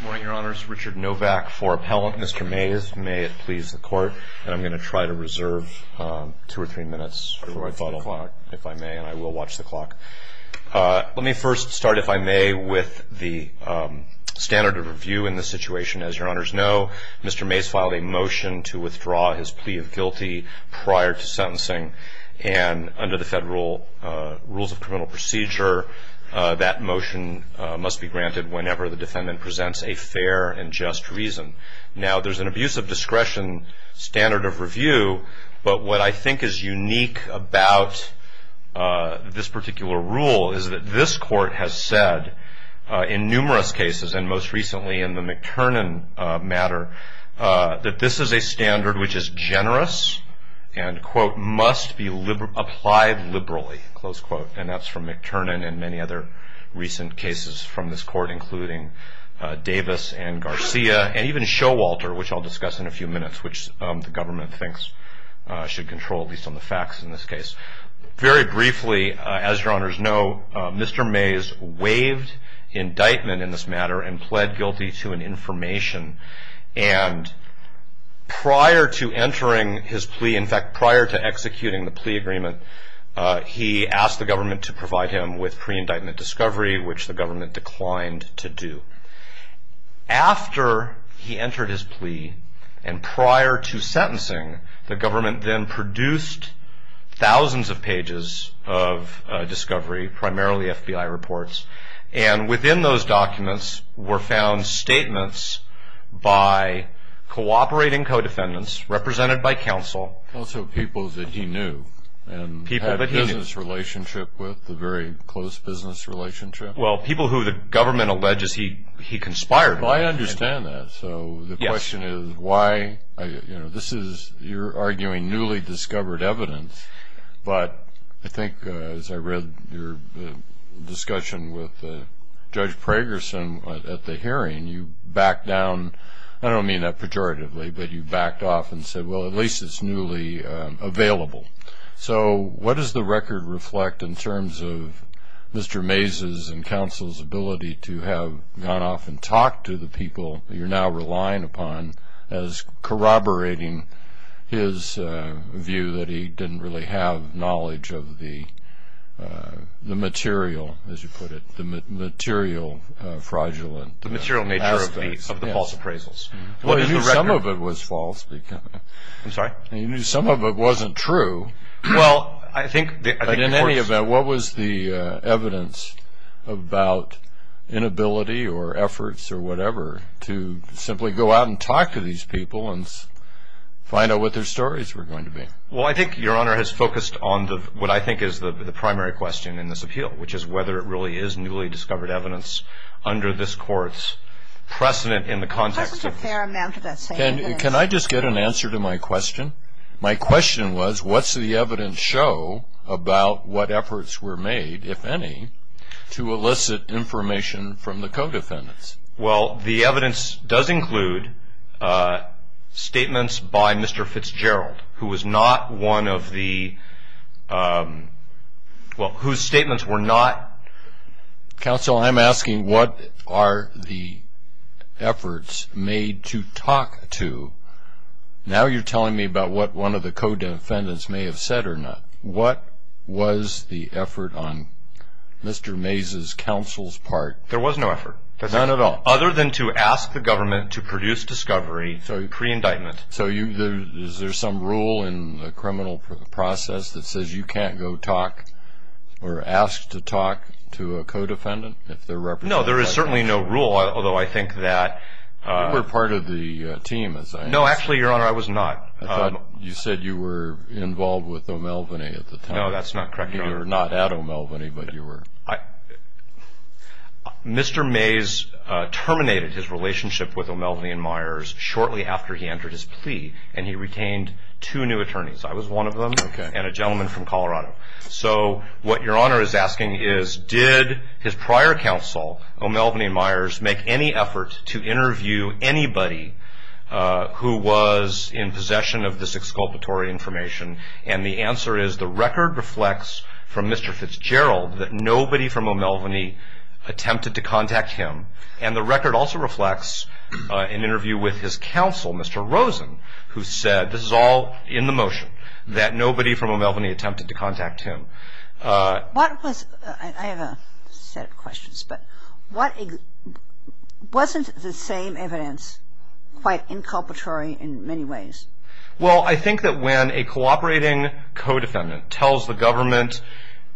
Good morning, your honors. Richard Novak for appellant. Mr. Maize, may it please the court, and I'm going to try to reserve two or three minutes for my final, if I may, and I will watch the clock. Let me first start, if I may, with the standard of review in this situation. As your honors know, Mr. Maize filed a motion to withdraw his plea of guilty prior to sentencing, and under the Federal Rules of Criminal Procedure, that motion must be granted whenever the defendant presents a fair and just reason. Now, there's an abuse of discretion standard of review, but what I think is unique about this particular rule is that this court has said in numerous cases, and most recently in the McTernan matter, that this is a standard which is generous and, quote, must be applied liberally, close quote. And that's from McTernan and many other recent cases from this court, including Davis and Garcia, and even Showalter, which I'll discuss in a few minutes, which the government thinks should control, at least on the facts in this case. Very briefly, as your honors know, Mr. Maize waived indictment in this matter and pled guilty to an information, and prior to entering his plea, in fact, prior to executing the plea agreement, he asked the government to provide him with pre-indictment discovery, which the government declined to do. After he entered his plea and prior to sentencing, the government then produced thousands of pages of discovery, primarily FBI reports, and within those documents were found statements by cooperating co-defendants represented by counsel. Also people that he knew and had a business relationship with, a very close business relationship. Well, people who the government alleges he conspired with. Well, I understand that. Yes. So the question is why, you know, this is, you're arguing newly discovered evidence, but I think as I read your discussion with Judge Pragerson at the hearing, you backed down, I don't mean that pejoratively, but you backed off and said, well, at least it's newly available. So what does the record reflect in terms of Mr. Mazes and counsel's ability to have gone off and talked to the people you're now relying upon as corroborating his view that he didn't really have knowledge of the material, as you put it, the material fraudulent aspects. The material nature of the false appraisals. Well, you knew some of it was false. I'm sorry? You knew some of it wasn't true. Well, I think the court's. But in any event, what was the evidence about inability or efforts or whatever to simply go out and talk to these people and find out what their stories were going to be? Well, I think Your Honor has focused on what I think is the primary question in this appeal, which is whether it really is newly discovered evidence under this court's precedent in the context of. What was a fair amount of that saying? And can I just get an answer to my question? My question was, what's the evidence show about what efforts were made, if any, to elicit information from the co-defendants? Well, the evidence does include statements by Mr. Fitzgerald, who was not one of the, well, whose statements were not. Counsel, I'm asking what are the efforts made to talk to. Now you're telling me about what one of the co-defendants may have said or not. What was the effort on Mr. Mays' counsel's part? There was no effort. None at all? Other than to ask the government to produce discovery pre-indictment. So is there some rule in the criminal process that says you can't go talk or ask to talk to a co-defendant? No, there is certainly no rule, although I think that. You were part of the team, as I understand. No, actually, Your Honor, I was not. I thought you said you were involved with O'Melveny at the time. No, that's not correct, Your Honor. You were not at O'Melveny, but you were. Mr. Mays terminated his relationship with O'Melveny and Myers shortly after he entered his plea, and he retained two new attorneys. I was one of them and a gentleman from Colorado. So what Your Honor is asking is did his prior counsel, O'Melveny and Myers, make any effort to interview anybody who was in possession of this exculpatory information? And the answer is the record reflects from Mr. Fitzgerald that nobody from O'Melveny attempted to contact him, and the record also reflects an interview with his counsel, Mr. Rosen, who said, this is all in the motion, that nobody from O'Melveny attempted to contact him. I have a set of questions, but wasn't the same evidence quite inculpatory in many ways? Well, I think that when a cooperating co-defendant tells the government,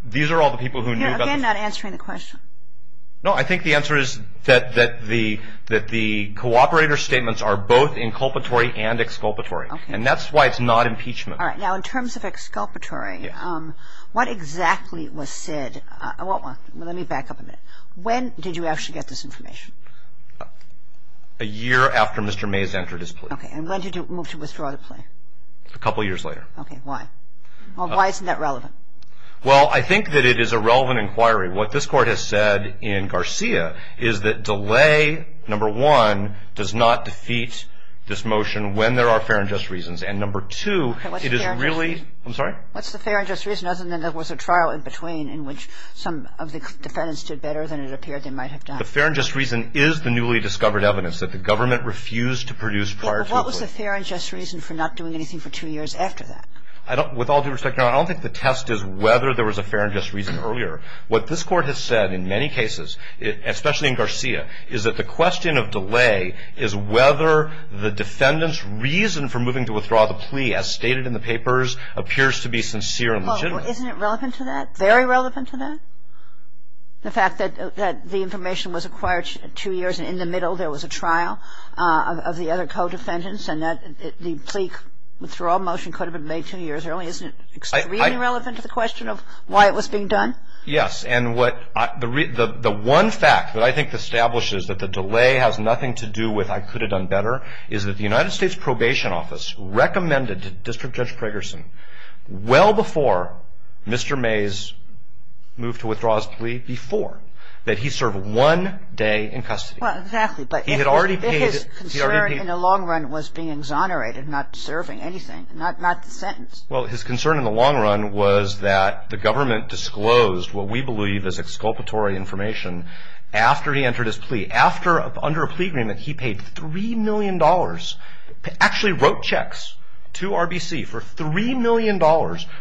these are all the people who knew about this. You're again not answering the question. No, I think the answer is that the cooperator statements are both inculpatory and exculpatory, and that's why it's not impeachment. All right. Now, in terms of exculpatory, what exactly was said? Let me back up a minute. When did you actually get this information? A year after Mr. Mays entered his plea. Okay. And when did you move to withdraw the plea? A couple years later. Okay. Why? Why isn't that relevant? Well, I think that it is a relevant inquiry. What this Court has said in Garcia is that delay, number one, does not defeat this motion when there are fair and just reasons. And number two, it is really – I'm sorry? What's the fair and just reason other than there was a trial in between in which some of the defendants did better than it appeared they might have done? The fair and just reason is the newly discovered evidence that the government refused to produce prior to the plea. Okay. But what was the fair and just reason for not doing anything for two years after that? With all due respect, Your Honor, I don't think the test is whether there was a fair and just reason earlier. What this Court has said in many cases, especially in Garcia, is that the question of delay is whether the defendant's reason for moving to withdraw the plea, as stated in the papers, appears to be sincere and legitimate. Well, isn't it relevant to that? Very relevant to that? The fact that the information was acquired two years and in the middle there was a trial of the other co-defendants and that the plea withdrawal motion could have been made two years earlier, isn't it really relevant to the question of why it was being done? Yes. And the one fact that I think establishes that the delay has nothing to do with I could have done better is that the United States Probation Office recommended to District Judge Pragerson well before Mr. Mays moved to withdraw his plea, before, that he serve one day in custody. Well, exactly. But his concern in the long run was being exonerated, not serving anything, not the sentence. Well, his concern in the long run was that the government disclosed what we believe is exculpatory information after he entered his plea. After, under a plea agreement, he paid $3 million, actually wrote checks to RBC for $3 million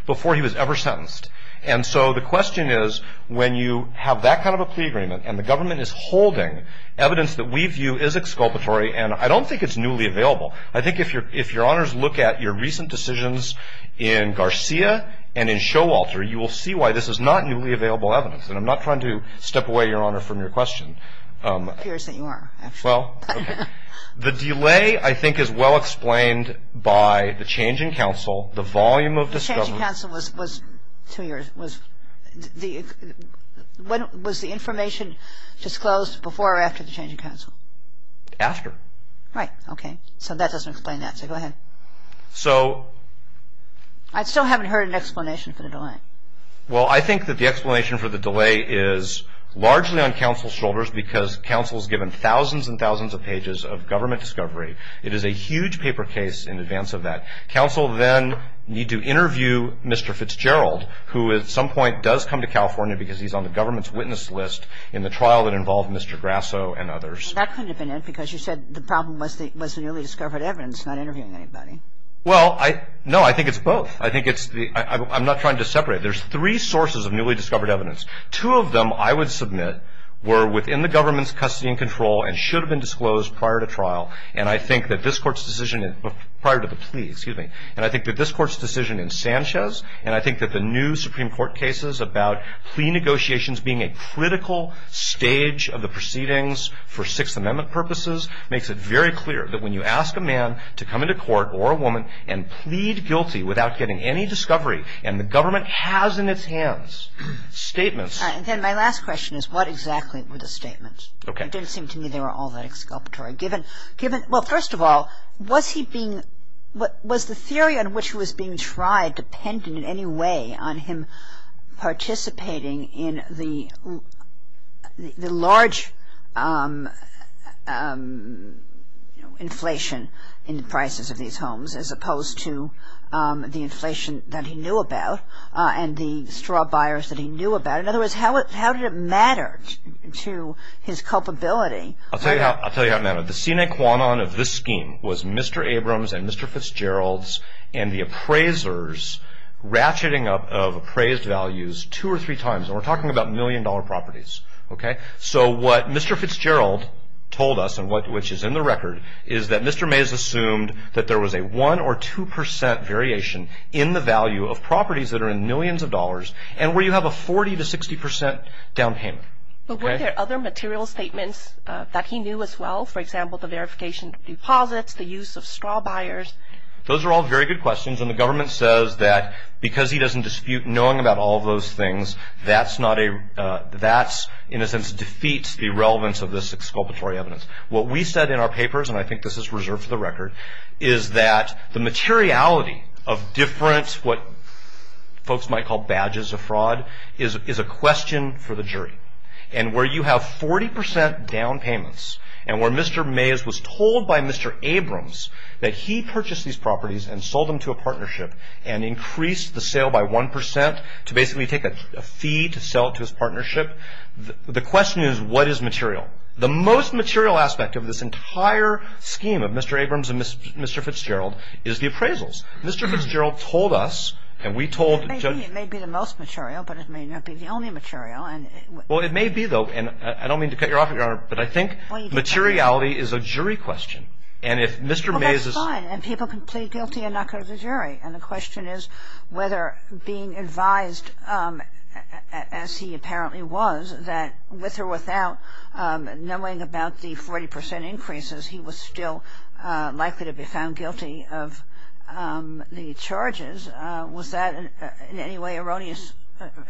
before he was ever sentenced. And so the question is when you have that kind of a plea agreement and the government is holding evidence that we view is exculpatory and I don't think it's newly available. I think if your honors look at your recent decisions in Garcia and in Showalter, you will see why this is not newly available evidence. And I'm not trying to step away, Your Honor, from your question. It appears that you are, actually. Well, okay. The delay, I think, is well explained by the change in counsel, the volume of discovery. The change in counsel was two years. Was the information disclosed before or after the change in counsel? After. Right. Okay. So that doesn't explain that. So go ahead. So. I still haven't heard an explanation for the delay. Well, I think that the explanation for the delay is largely on counsel's shoulders because counsel is given thousands and thousands of pages of government discovery. It is a huge paper case in advance of that. Counsel then need to interview Mr. Fitzgerald, who at some point does come to California because he's on the government's witness list in the trial that involved Mr. Grasso and others. That couldn't have been it because you said the problem was the newly discovered evidence, not interviewing anybody. Well, no, I think it's both. I'm not trying to separate. There's three sources of newly discovered evidence. Two of them, I would submit, were within the government's custody and control and should have been disclosed prior to trial. And I think that this Court's decision prior to the plea, excuse me, and I think that this Court's decision in Sanchez and I think that the new Supreme Court cases about plea negotiations being a critical stage of the proceedings for Sixth Amendment purposes makes it very clear that when you ask a man to come into court or a woman and plead guilty without getting any discovery and the government has in its hands statements. Then my last question is what exactly were the statements? Okay. It didn't seem to me they were all that exculpatory. Given, well, first of all, was he being, was the theory on which he was being tried dependent in any way on him participating in the large inflation in the prices of these homes as opposed to the inflation that he knew about and the straw buyers that he knew about? In other words, how did it matter to his culpability? I'll tell you how it mattered. The sine qua non of this scheme was Mr. Abrams and Mr. Fitzgerald's and the appraiser's ratcheting up of appraised values two or three times. And we're talking about million-dollar properties. Okay? So what Mr. Fitzgerald told us and which is in the record is that Mr. Mays assumed that there was a 1% or 2% variation in the value of properties that are in millions of dollars and where you have a 40% to 60% down payment. But were there other material statements that he knew as well? For example, the verification of deposits, the use of straw buyers? Those are all very good questions. And the government says that because he doesn't dispute knowing about all those things, that's in a sense defeats the relevance of this exculpatory evidence. What we said in our papers, and I think this is reserved for the record, is that the materiality of different what folks might call badges of fraud is a question for the jury. And where you have 40% down payments and where Mr. Mays was told by Mr. Abrams that he purchased these properties and sold them to a partnership and increased the sale by 1% to basically take a fee to sell it to his partnership, the question is what is material? The most material aspect of this entire scheme of Mr. Abrams and Mr. Fitzgerald is the appraisals. Mr. Fitzgerald told us and we told the judge. It may be the most material, but it may not be the only material. Well, it may be, though, and I don't mean to cut you off, Your Honor, but I think materiality is a jury question. Well, that's fine, and people can plead guilty and not go to the jury. And the question is whether being advised, as he apparently was, that with or without knowing about the 40% increases, he was still likely to be found guilty of the charges, was that in any way erroneous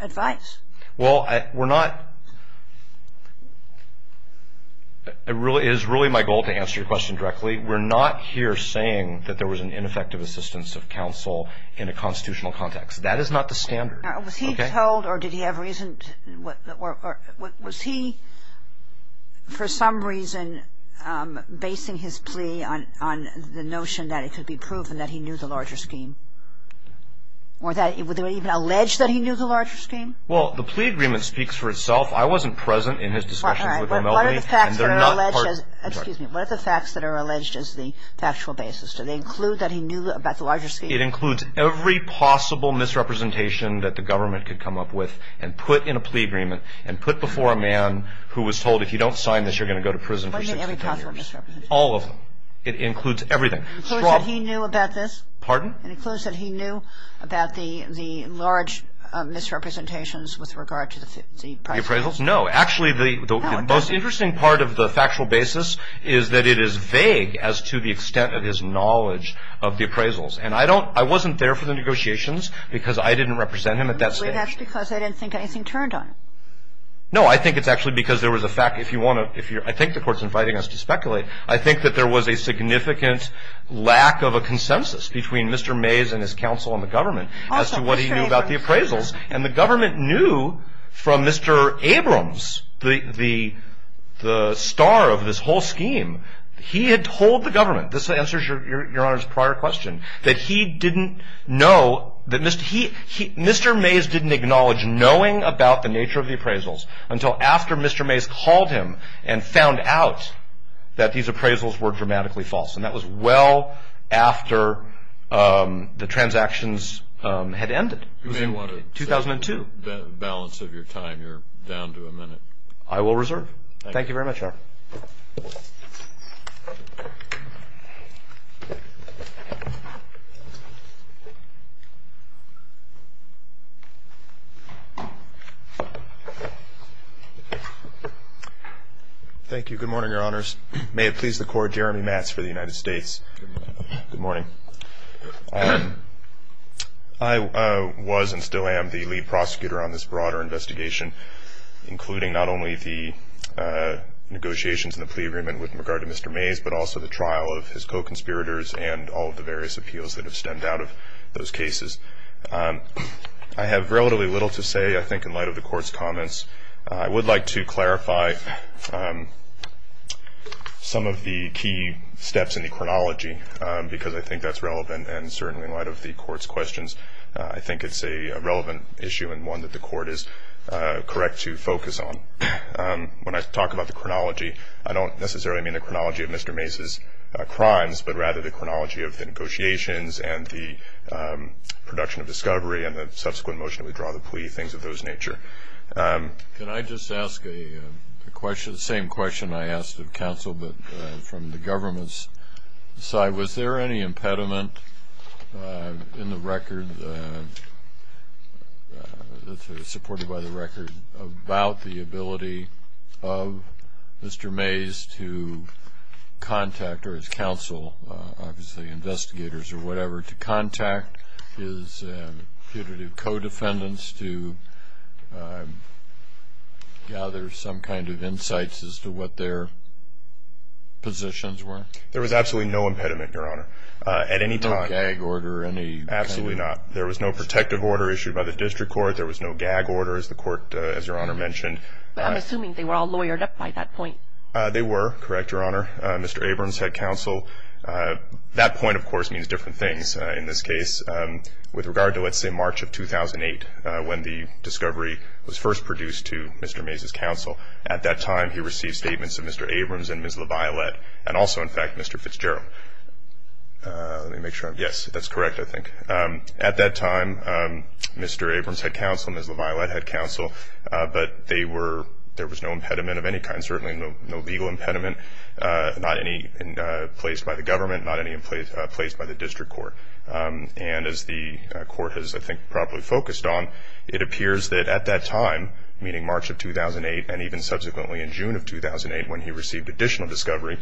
advice? Well, we're not – it is really my goal to answer your question directly. We're not here saying that there was an ineffective assistance of counsel in a constitutional context. That is not the standard. Was he told or did he have reason – was he for some reason basing his plea on the notion that it could be proven that he knew the larger scheme? Or that – were they even alleged that he knew the larger scheme? Well, the plea agreement speaks for itself. I wasn't present in his discussions with O'Meldy. All right. But what are the facts that are alleged as – excuse me. What are the facts that are alleged as the factual basis? Do they include that he knew about the larger scheme? It includes every possible misrepresentation that the government could come up with and put in a plea agreement and put before a man who was told if you don't sign this, you're going to go to prison for 16 years. What do you mean every possible misrepresentation? All of them. It includes everything. It includes that he knew about this? Pardon? It includes that he knew about the large misrepresentations with regard to the appraisals? The appraisals? No. Actually, the most interesting part of the factual basis is that it is vague as to the extent of his knowledge of the appraisals. And I don't – I wasn't there for the negotiations because I didn't represent him at that stage. But that's because they didn't think anything turned on him. No. I think it's actually because there was a fact. If you want to – I think the Court's inviting us to speculate. I think that there was a significant lack of a consensus between Mr. Mays and his counsel and the government as to what he knew about the appraisals. Also, Mr. Abrams. And the government knew from Mr. Abrams, the star of this whole scheme, he had told the government – this answers Your Honor's prior question – that he didn't know that Mr. – Mr. Mays didn't acknowledge knowing about the nature of the appraisals until after Mr. Mays called him and found out that these appraisals were dramatically false. And that was well after the transactions had ended. You may want to set the balance of your time. You're down to a minute. Thank you very much, Your Honor. Thank you. Good morning, Your Honors. May it please the Court, Jeremy Matz for the United States. Good morning. Good morning. I was and still am the lead prosecutor on this broader investigation, including not only the negotiations and the plea agreement with regard to Mr. Mays but also the trial of his co-conspirators and all of the various appeals that have stemmed out of those cases. I have relatively little to say, I think, in light of the Court's comments. I would like to clarify some of the key steps in the chronology because I think that's relevant. And certainly in light of the Court's questions, I think it's a relevant issue and one that the Court is correct to focus on. When I talk about the chronology, I don't necessarily mean the chronology of Mr. Mays' crimes but rather the chronology of the negotiations and the production of discovery and the subsequent motion to withdraw the plea, things of those nature. Can I just ask the same question I asked of counsel but from the government's side? Was there any impediment in the record, supported by the record, about the ability of Mr. Mays to contact or his counsel, obviously investigators or whatever, to contact his putative co-defendants to gather some kind of insights as to what their positions were? There was absolutely no impediment, Your Honor. At any time. No gag order or any kind of? Absolutely not. There was no protective order issued by the District Court. There was no gag order, as the Court, as Your Honor mentioned. I'm assuming they were all lawyered up by that point. They were, correct, Your Honor. Mr. Abrams, head counsel, that point, of course, means different things in this case. With regard to, let's say, March of 2008, when the discovery was first produced to Mr. Mays' counsel, at that time he received statements of Mr. Abrams and Ms. LaViolette and also, in fact, Mr. Fitzgerald. Yes, that's correct, I think. At that time, Mr. Abrams, head counsel, Ms. LaViolette, head counsel, but they were, there was no impediment of any kind, certainly no legal impediment, not any placed by the government, not any placed by the District Court. And as the Court has, I think, probably focused on, it appears that at that time, meaning March of 2008 and even subsequently in June of 2008 when he received additional discovery,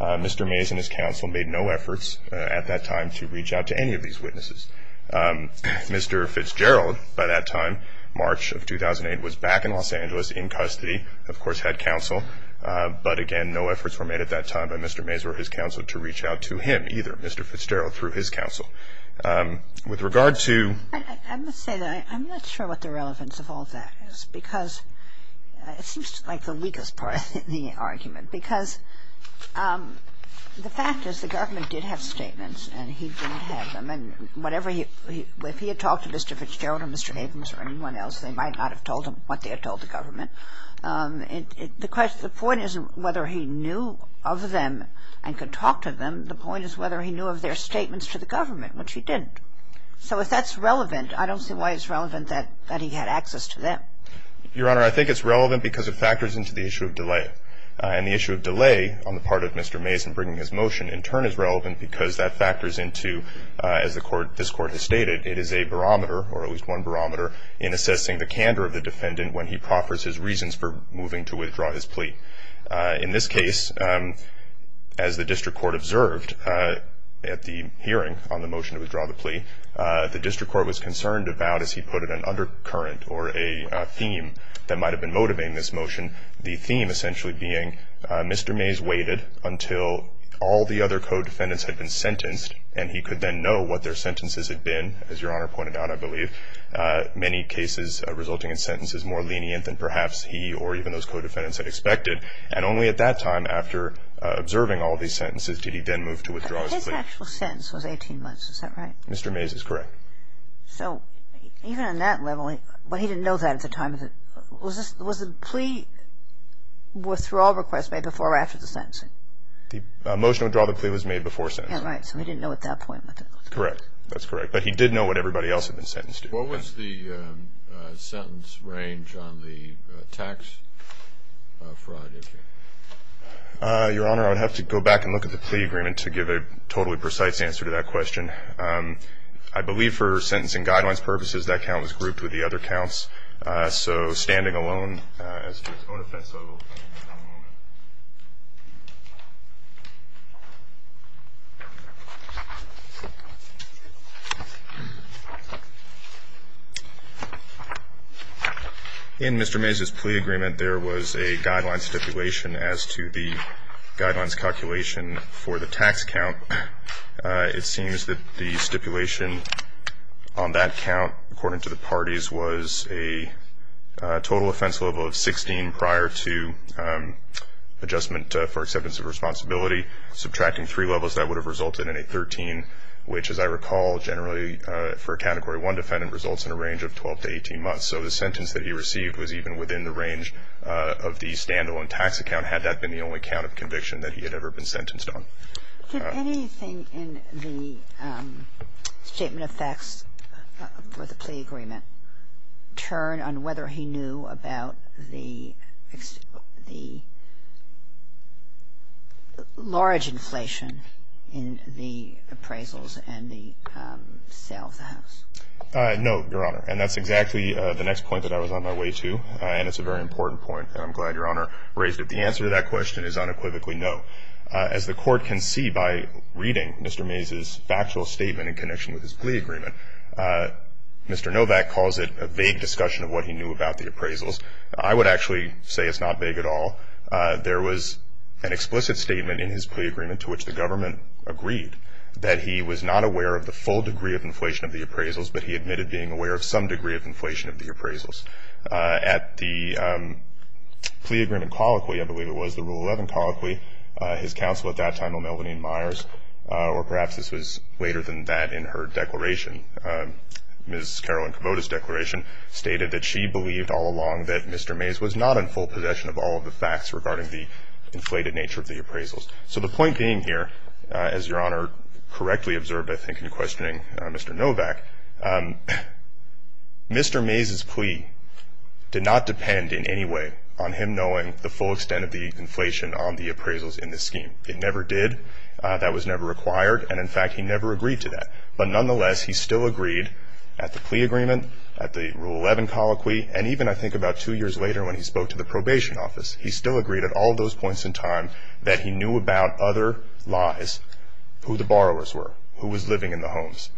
Mr. Mays and his counsel made no efforts at that time to reach out to any of these witnesses. Mr. Fitzgerald, by that time, March of 2008, was back in Los Angeles in custody, of course, head counsel, but again, no efforts were made at that time by Mr. Mays or his counsel to reach out to him either, Mr. Fitzgerald, through his counsel. With regard to... I must say that I'm not sure what the relevance of all that is because it seems like the weakest part of the argument because the fact is the government did have statements and he didn't have them, and whatever he, if he had talked to Mr. Fitzgerald or Mr. Havens or anyone else, they might not have told him what they had told the government. The point isn't whether he knew of them and could talk to them. The point is whether he knew of their statements to the government, which he didn't. So if that's relevant, I don't see why it's relevant that he had access to them. Your Honor, I think it's relevant because it factors into the issue of delay and the issue of delay on the part of Mr. Mays in bringing his motion in turn is relevant because that factors into, as this Court has stated, it is a barometer or at least one barometer in assessing the candor of the defendant when he proffers his reasons for moving to withdraw his plea. In this case, as the district court observed at the hearing on the motion to withdraw the plea, the district court was concerned about, as he put it, an undercurrent or a theme that might have been motivating this motion. The theme essentially being Mr. Mays waited until all the other co-defendants had been sentenced and he could then know what their sentences had been, as Your Honor pointed out, I believe, many cases resulting in sentences more lenient than perhaps he or even those co-defendants had expected. And only at that time, after observing all these sentences, did he then move to withdraw his plea. But his actual sentence was 18 months. Is that right? Mr. Mays is correct. So even on that level, but he didn't know that at the time. Was the plea withdrawal request made before or after the sentencing? The motion to withdraw the plea was made before sentencing. Right. So he didn't know at that point. Correct. That's correct. But he did know what everybody else had been sentenced to. What was the sentence range on the tax fraud issue? Your Honor, I would have to go back and look at the plea agreement to give a totally precise answer to that question. I believe for sentencing guidelines purposes, that count was grouped with the other counts. So standing alone as to its own offense, I will come back to that in a moment. In Mr. Mays' plea agreement, there was a guidelines stipulation as to the guidelines calculation for the tax count. It seems that the stipulation on that count, according to the parties, was a total offense level of 16 prior to adjustment for acceptance of responsibility. Subtracting three levels, that would have resulted in a 13, which, as I recall, generally for a Category 1 defendant results in a range of 12 to 18 months. So the sentence that he received was even within the range of the standalone tax account, had that been the only count of conviction that he had ever been sentenced on. Did anything in the statement of facts for the plea agreement turn on whether he knew about the large inflation in the appraisals and the sale of the house? No, Your Honor, and that's exactly the next point that I was on my way to, and it's a very important point, and I'm glad Your Honor raised it. The answer to that question is unequivocally no. As the Court can see by reading Mr. Mays' factual statement in connection with his plea agreement, Mr. Novak calls it a vague discussion of what he knew about the appraisals. I would actually say it's not vague at all. There was an explicit statement in his plea agreement to which the government agreed that he was not aware of the full degree of inflation of the appraisals, but he admitted being aware of some degree of inflation of the appraisals. At the plea agreement colloquy, I believe it was the Rule 11 colloquy, his counsel at that time, O'Melveny Myers, or perhaps this was later than that in her declaration, Ms. Carolyn Kubota's declaration stated that she believed all along that Mr. Mays was not in full possession of all of the facts regarding the inflated nature of the appraisals. So the point being here, as Your Honor correctly observed I think in questioning Mr. Novak, Mr. Mays' plea did not depend in any way on him knowing the full extent of the inflation on the appraisals in this scheme. It never did. That was never required, and in fact he never agreed to that. But nonetheless, he still agreed at the plea agreement, at the Rule 11 colloquy, and even I think about two years later when he spoke to the probation office, he still agreed at all those points in time that he knew about other lies, who the borrowers were, who was living in the homes,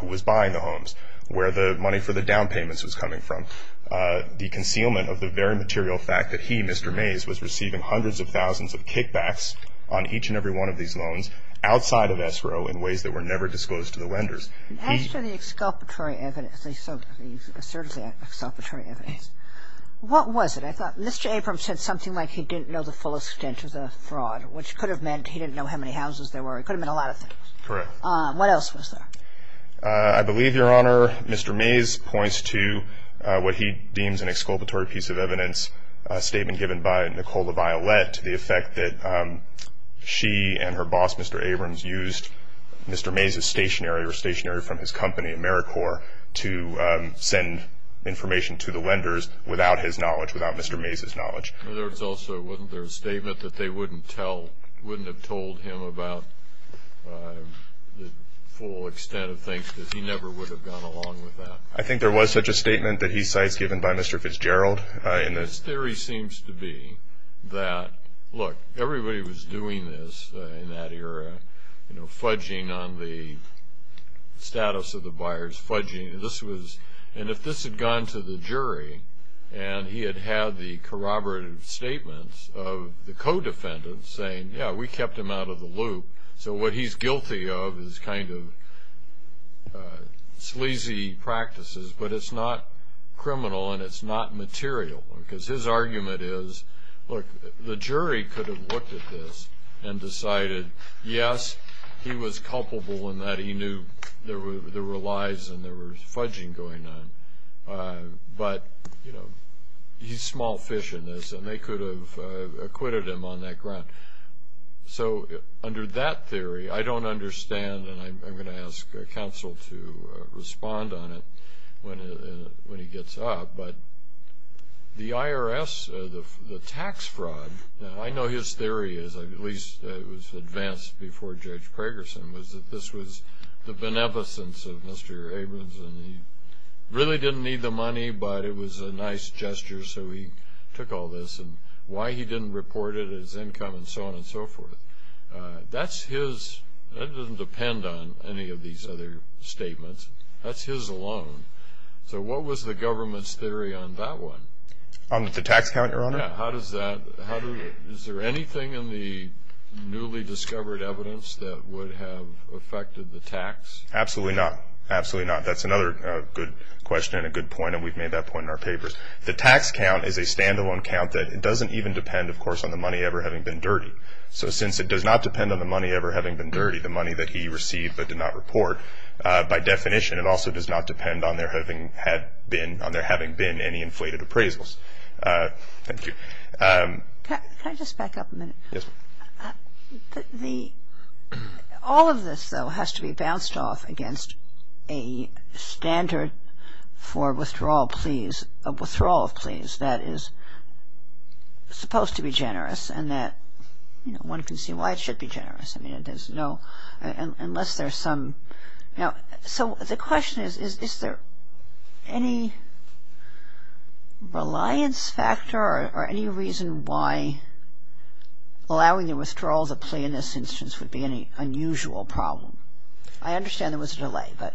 who was buying the homes, where the money for the down payments was coming from. The concealment of the very material fact that he, Mr. Mays, was receiving hundreds of thousands of kickbacks on each and every one of these loans outside of SRO in ways that were never disclosed to the lenders. As to the exculpatory evidence, he asserted the exculpatory evidence, what was it? I thought Mr. Abrams said something like he didn't know the full extent of the fraud, which could have meant he didn't know how many houses there were. It could have meant a lot of things. Correct. What else was there? I believe, Your Honor, Mr. Mays points to what he deems an exculpatory piece of evidence, a statement given by Nicola Violette to the effect that she and her boss, Mr. Abrams, used Mr. Mays' stationery or stationery from his company, AmeriCorps, to send information to the lenders without his knowledge, without Mr. Mays' knowledge. In other words, also, wasn't there a statement that they wouldn't have told him about the full extent of things, that he never would have gone along with that? I think there was such a statement that he cites given by Mr. Fitzgerald. His theory seems to be that, look, everybody was doing this in that era, you know, fudging on the status of the buyers, fudging. And if this had gone to the jury and he had had the corroborative statements of the co-defendants saying, yeah, we kept him out of the loop, so what he's guilty of is kind of sleazy practices, but it's not criminal and it's not material. Because his argument is, look, the jury could have looked at this and decided, yes, he was culpable in that he knew there were lies and there was fudging going on. But, you know, he's small fish in this, and they could have acquitted him on that ground. So under that theory, I don't understand, and I'm going to ask counsel to respond on it when he gets up, but the IRS, the tax fraud, I know his theory is, at least it was advanced before Judge Pragerson, was that this was the beneficence of Mr. Abrams and he really didn't need the money, but it was a nice gesture, so he took all this. And why he didn't report it as income and so on and so forth, that's his. That doesn't depend on any of these other statements. That's his alone. So what was the government's theory on that one? On the tax count, Your Honor? Yeah. How does that – is there anything in the newly discovered evidence that would have affected the tax? Absolutely not. Absolutely not. That's another good question and a good point, and we've made that point in our papers. The tax count is a standalone count that doesn't even depend, of course, on the money ever having been dirty. So since it does not depend on the money ever having been dirty, the money that he received but did not report, by definition it also does not depend on there having been any inflated appraisals. Thank you. Can I just back up a minute? Yes, ma'am. All of this, though, has to be bounced off against a standard for withdrawal of pleas that is supposed to be generous and that one can see why it should be generous. I mean, there's no – unless there's some – so the question is, is there any reliance factor or any reason why allowing the withdrawal of the plea in this instance would be an unusual problem? I understand there was a delay, but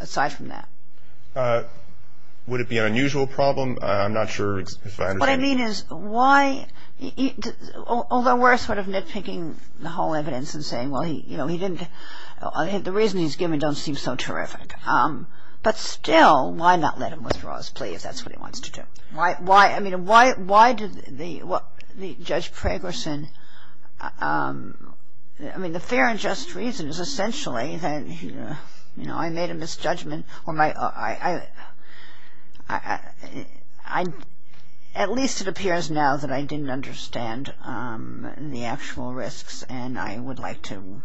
aside from that? Would it be an unusual problem? I'm not sure if I understand. What I mean is why – although we're sort of nitpicking the whole evidence and saying, well, he didn't – the reasons he's given don't seem so terrific. But still, why not let him withdraw his plea if that's what he wants to do? Why – I mean, why did the – Judge Pragerson – I mean, the fair and just reason is essentially that, you know, I made a misjudgment or my – at least it appears now that I didn't understand the actual risks and I would like to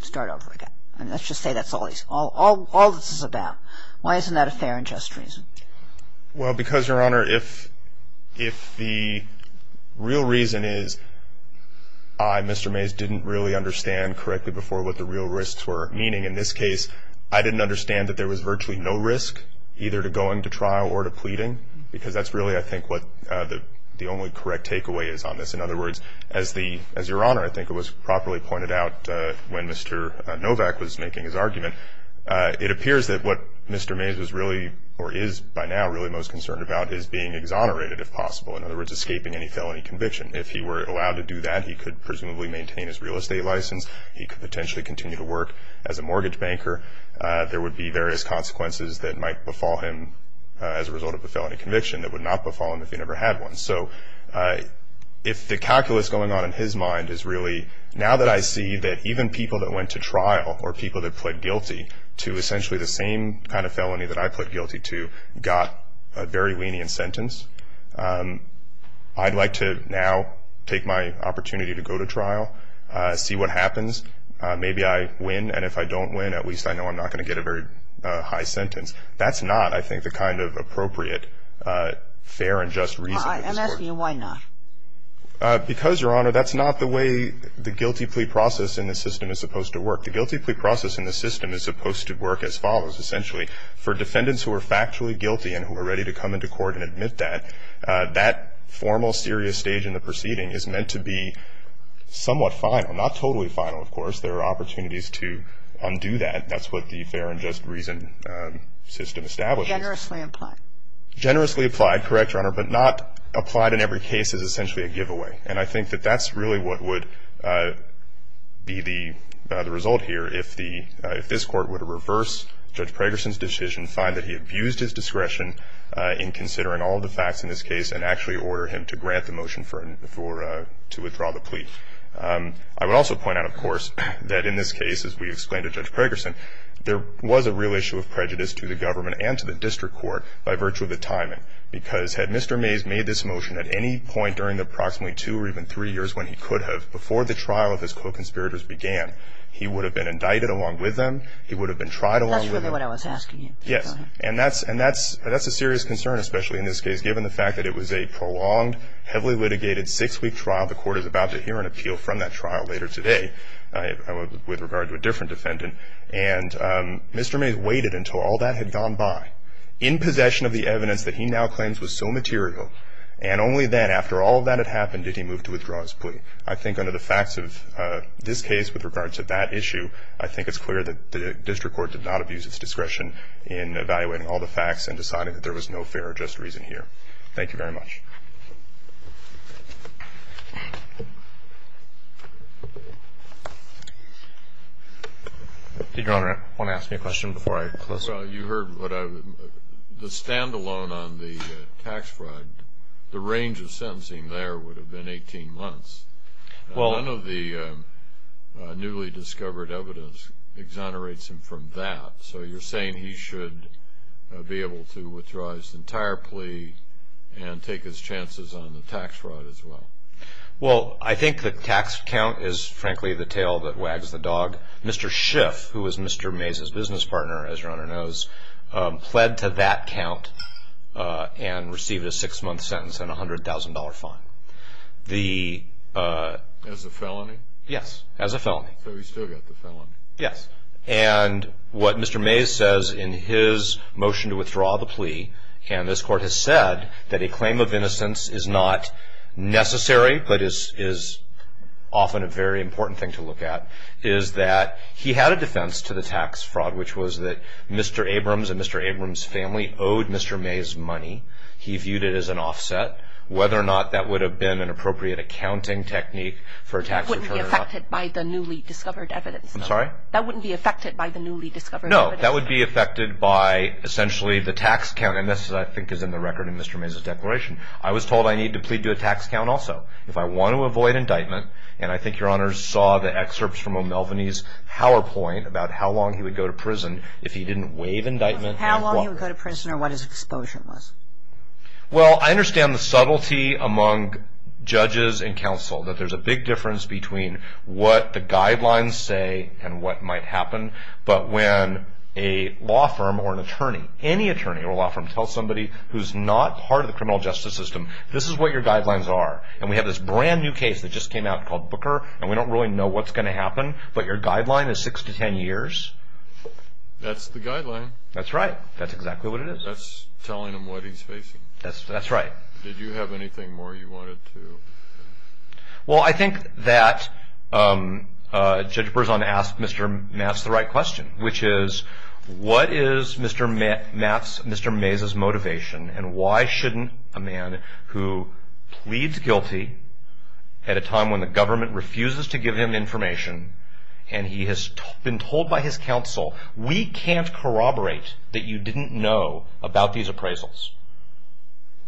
start over again. Let's just say that's all this is about. Why isn't that a fair and just reason? Well, because, Your Honor, if the real reason is I, Mr. Mays, didn't really understand correctly before what the real risks were meaning in this case, I didn't understand that there was virtually no risk either to going to trial or to pleading, because that's really, I think, what the only correct takeaway is on this. In other words, as Your Honor, I think it was properly pointed out when Mr. Novak was making his argument, it appears that what Mr. Mays was really or is by now really most concerned about is being exonerated if possible, in other words, escaping any felony conviction. If he were allowed to do that, he could presumably maintain his real estate license. He could potentially continue to work as a mortgage banker. There would be various consequences that might befall him as a result of a felony conviction that would not befall him if he never had one. So if the calculus going on in his mind is really now that I see that even people that went to trial or people that pled guilty to essentially the same kind of felony that I pled guilty to got a very lenient sentence, I'd like to now take my opportunity to go to trial, see what happens. Maybe I win, and if I don't win, at least I know I'm not going to get a very high sentence. That's not, I think, the kind of appropriate fair and just reason. I'm asking you why not. Because, Your Honor, that's not the way the guilty plea process in the system is supposed to work. The guilty plea process in the system is supposed to work as follows, essentially. For defendants who are factually guilty and who are ready to come into court and admit that, that formal serious stage in the proceeding is meant to be somewhat final, not totally final, of course. There are opportunities to undo that. That's what the fair and just reason system establishes. Generously applied. Generously applied, correct, Your Honor, but not applied in every case is essentially a giveaway. And I think that that's really what would be the result here. If this court were to reverse Judge Pregerson's decision, find that he abused his discretion in considering all the facts in this case and actually order him to grant the motion to withdraw the plea. I would also point out, of course, that in this case, as we explained to Judge Pregerson, there was a real issue of prejudice to the government and to the district court by virtue of the timing. Because had Mr. Mays made this motion at any point during the approximately two or even three years when he could have, before the trial of his co-conspirators began, he would have been indicted along with them. He would have been tried along with them. That's really what I was asking you. Yes. And that's a serious concern, especially in this case, given the fact that it was a prolonged, heavily litigated six-week trial. The court is about to hear an appeal from that trial later today with regard to a different defendant. And Mr. Mays waited until all that had gone by, in possession of the evidence that he now claims was so material. And only then, after all that had happened, did he move to withdraw his plea. I think under the facts of this case with regard to that issue, I think it's clear that the district court did not abuse its discretion in evaluating all the facts and deciding that there was no fair or just reason here. Thank you very much. Did Your Honor want to ask me a question before I close? The stand-alone on the tax fraud, the range of sentencing there would have been 18 months. None of the newly discovered evidence exonerates him from that. So you're saying he should be able to withdraw his entire plea and take his chances on the tax fraud as well? Well, I think the tax count is, frankly, the tail that wags the dog. Mr. Schiff, who was Mr. Mays' business partner, as Your Honor knows, pled to that count and received a six-month sentence and a $100,000 fine. As a felony? Yes, as a felony. So he still got the felony? Yes. And what Mr. Mays says in his motion to withdraw the plea, and this Court has said that a claim of innocence is not necessary, but is often a very important thing to look at, is that he had a defense to the tax fraud, which was that Mr. Abrams and Mr. Abrams' family owed Mr. Mays money. He viewed it as an offset. Whether or not that would have been an appropriate accounting technique for a tax return or not. But that wouldn't be affected by the newly discovered evidence? I'm sorry? That wouldn't be affected by the newly discovered evidence? No, that would be affected by, essentially, the tax count, and this, I think, is in the record in Mr. Mays' declaration. I was told I need to plead to a tax count also if I want to avoid indictment, and I think Your Honor saw the excerpts from O'Melveny's PowerPoint about how long he would go to prison if he didn't waive indictment. How long he would go to prison or what his exposure was? Well, I understand the subtlety among judges and counsel, that there's a big difference between what the guidelines say and what might happen, but when a law firm or an attorney, any attorney or law firm, can tell somebody who's not part of the criminal justice system, this is what your guidelines are. And we have this brand new case that just came out called Booker, and we don't really know what's going to happen, but your guideline is 6 to 10 years? That's the guideline. That's right. That's exactly what it is. That's telling him what he's facing. That's right. Did you have anything more you wanted to? Well, I think that Judge Berzon asked Mr. Matz the right question, which is what is Mr. Matz's motivation, and why shouldn't a man who pleads guilty at a time when the government refuses to give him information, and he has been told by his counsel, we can't corroborate that you didn't know about these appraisals,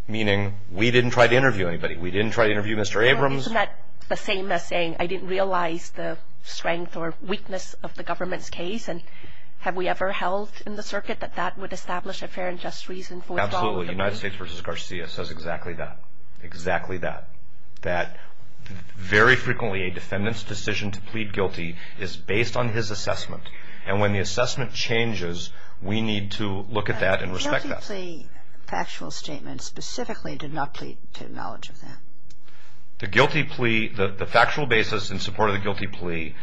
meaning we didn't try to interview anybody. We didn't try to interview Mr. Abrams. Isn't that the same as saying I didn't realize the strength or weakness of the government's case, and have we ever held in the circuit that that would establish a fair and just reason for withdrawal? Absolutely. United States v. Garcia says exactly that, exactly that, that very frequently a defendant's decision to plead guilty is based on his assessment, and when the assessment changes, we need to look at that and respect that. The guilty plea factual statement specifically did not plead to acknowledge of that. The guilty plea, the factual basis in support of the guilty plea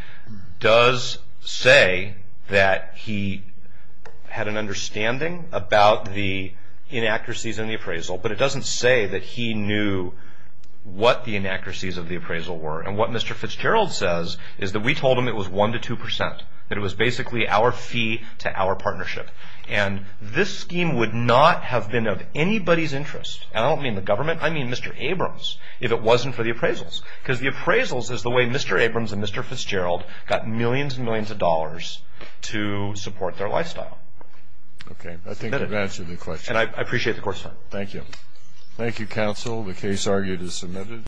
does say that he had an understanding about the inaccuracies in the appraisal, but it doesn't say that he knew what the inaccuracies of the appraisal were, and what Mr. Fitzgerald says is that we told him it was 1 to 2 percent, that it was basically our fee to our partnership, and this scheme would not have been of anybody's interest, and I don't mean the government, I mean Mr. Abrams, if it wasn't for the appraisals, because the appraisals is the way Mr. Abrams and Mr. Fitzgerald got millions and millions of dollars to support their lifestyle. Okay, I think you've answered the question. And I appreciate the court's time. Thank you. Thank you, counsel. The case argued is submitted.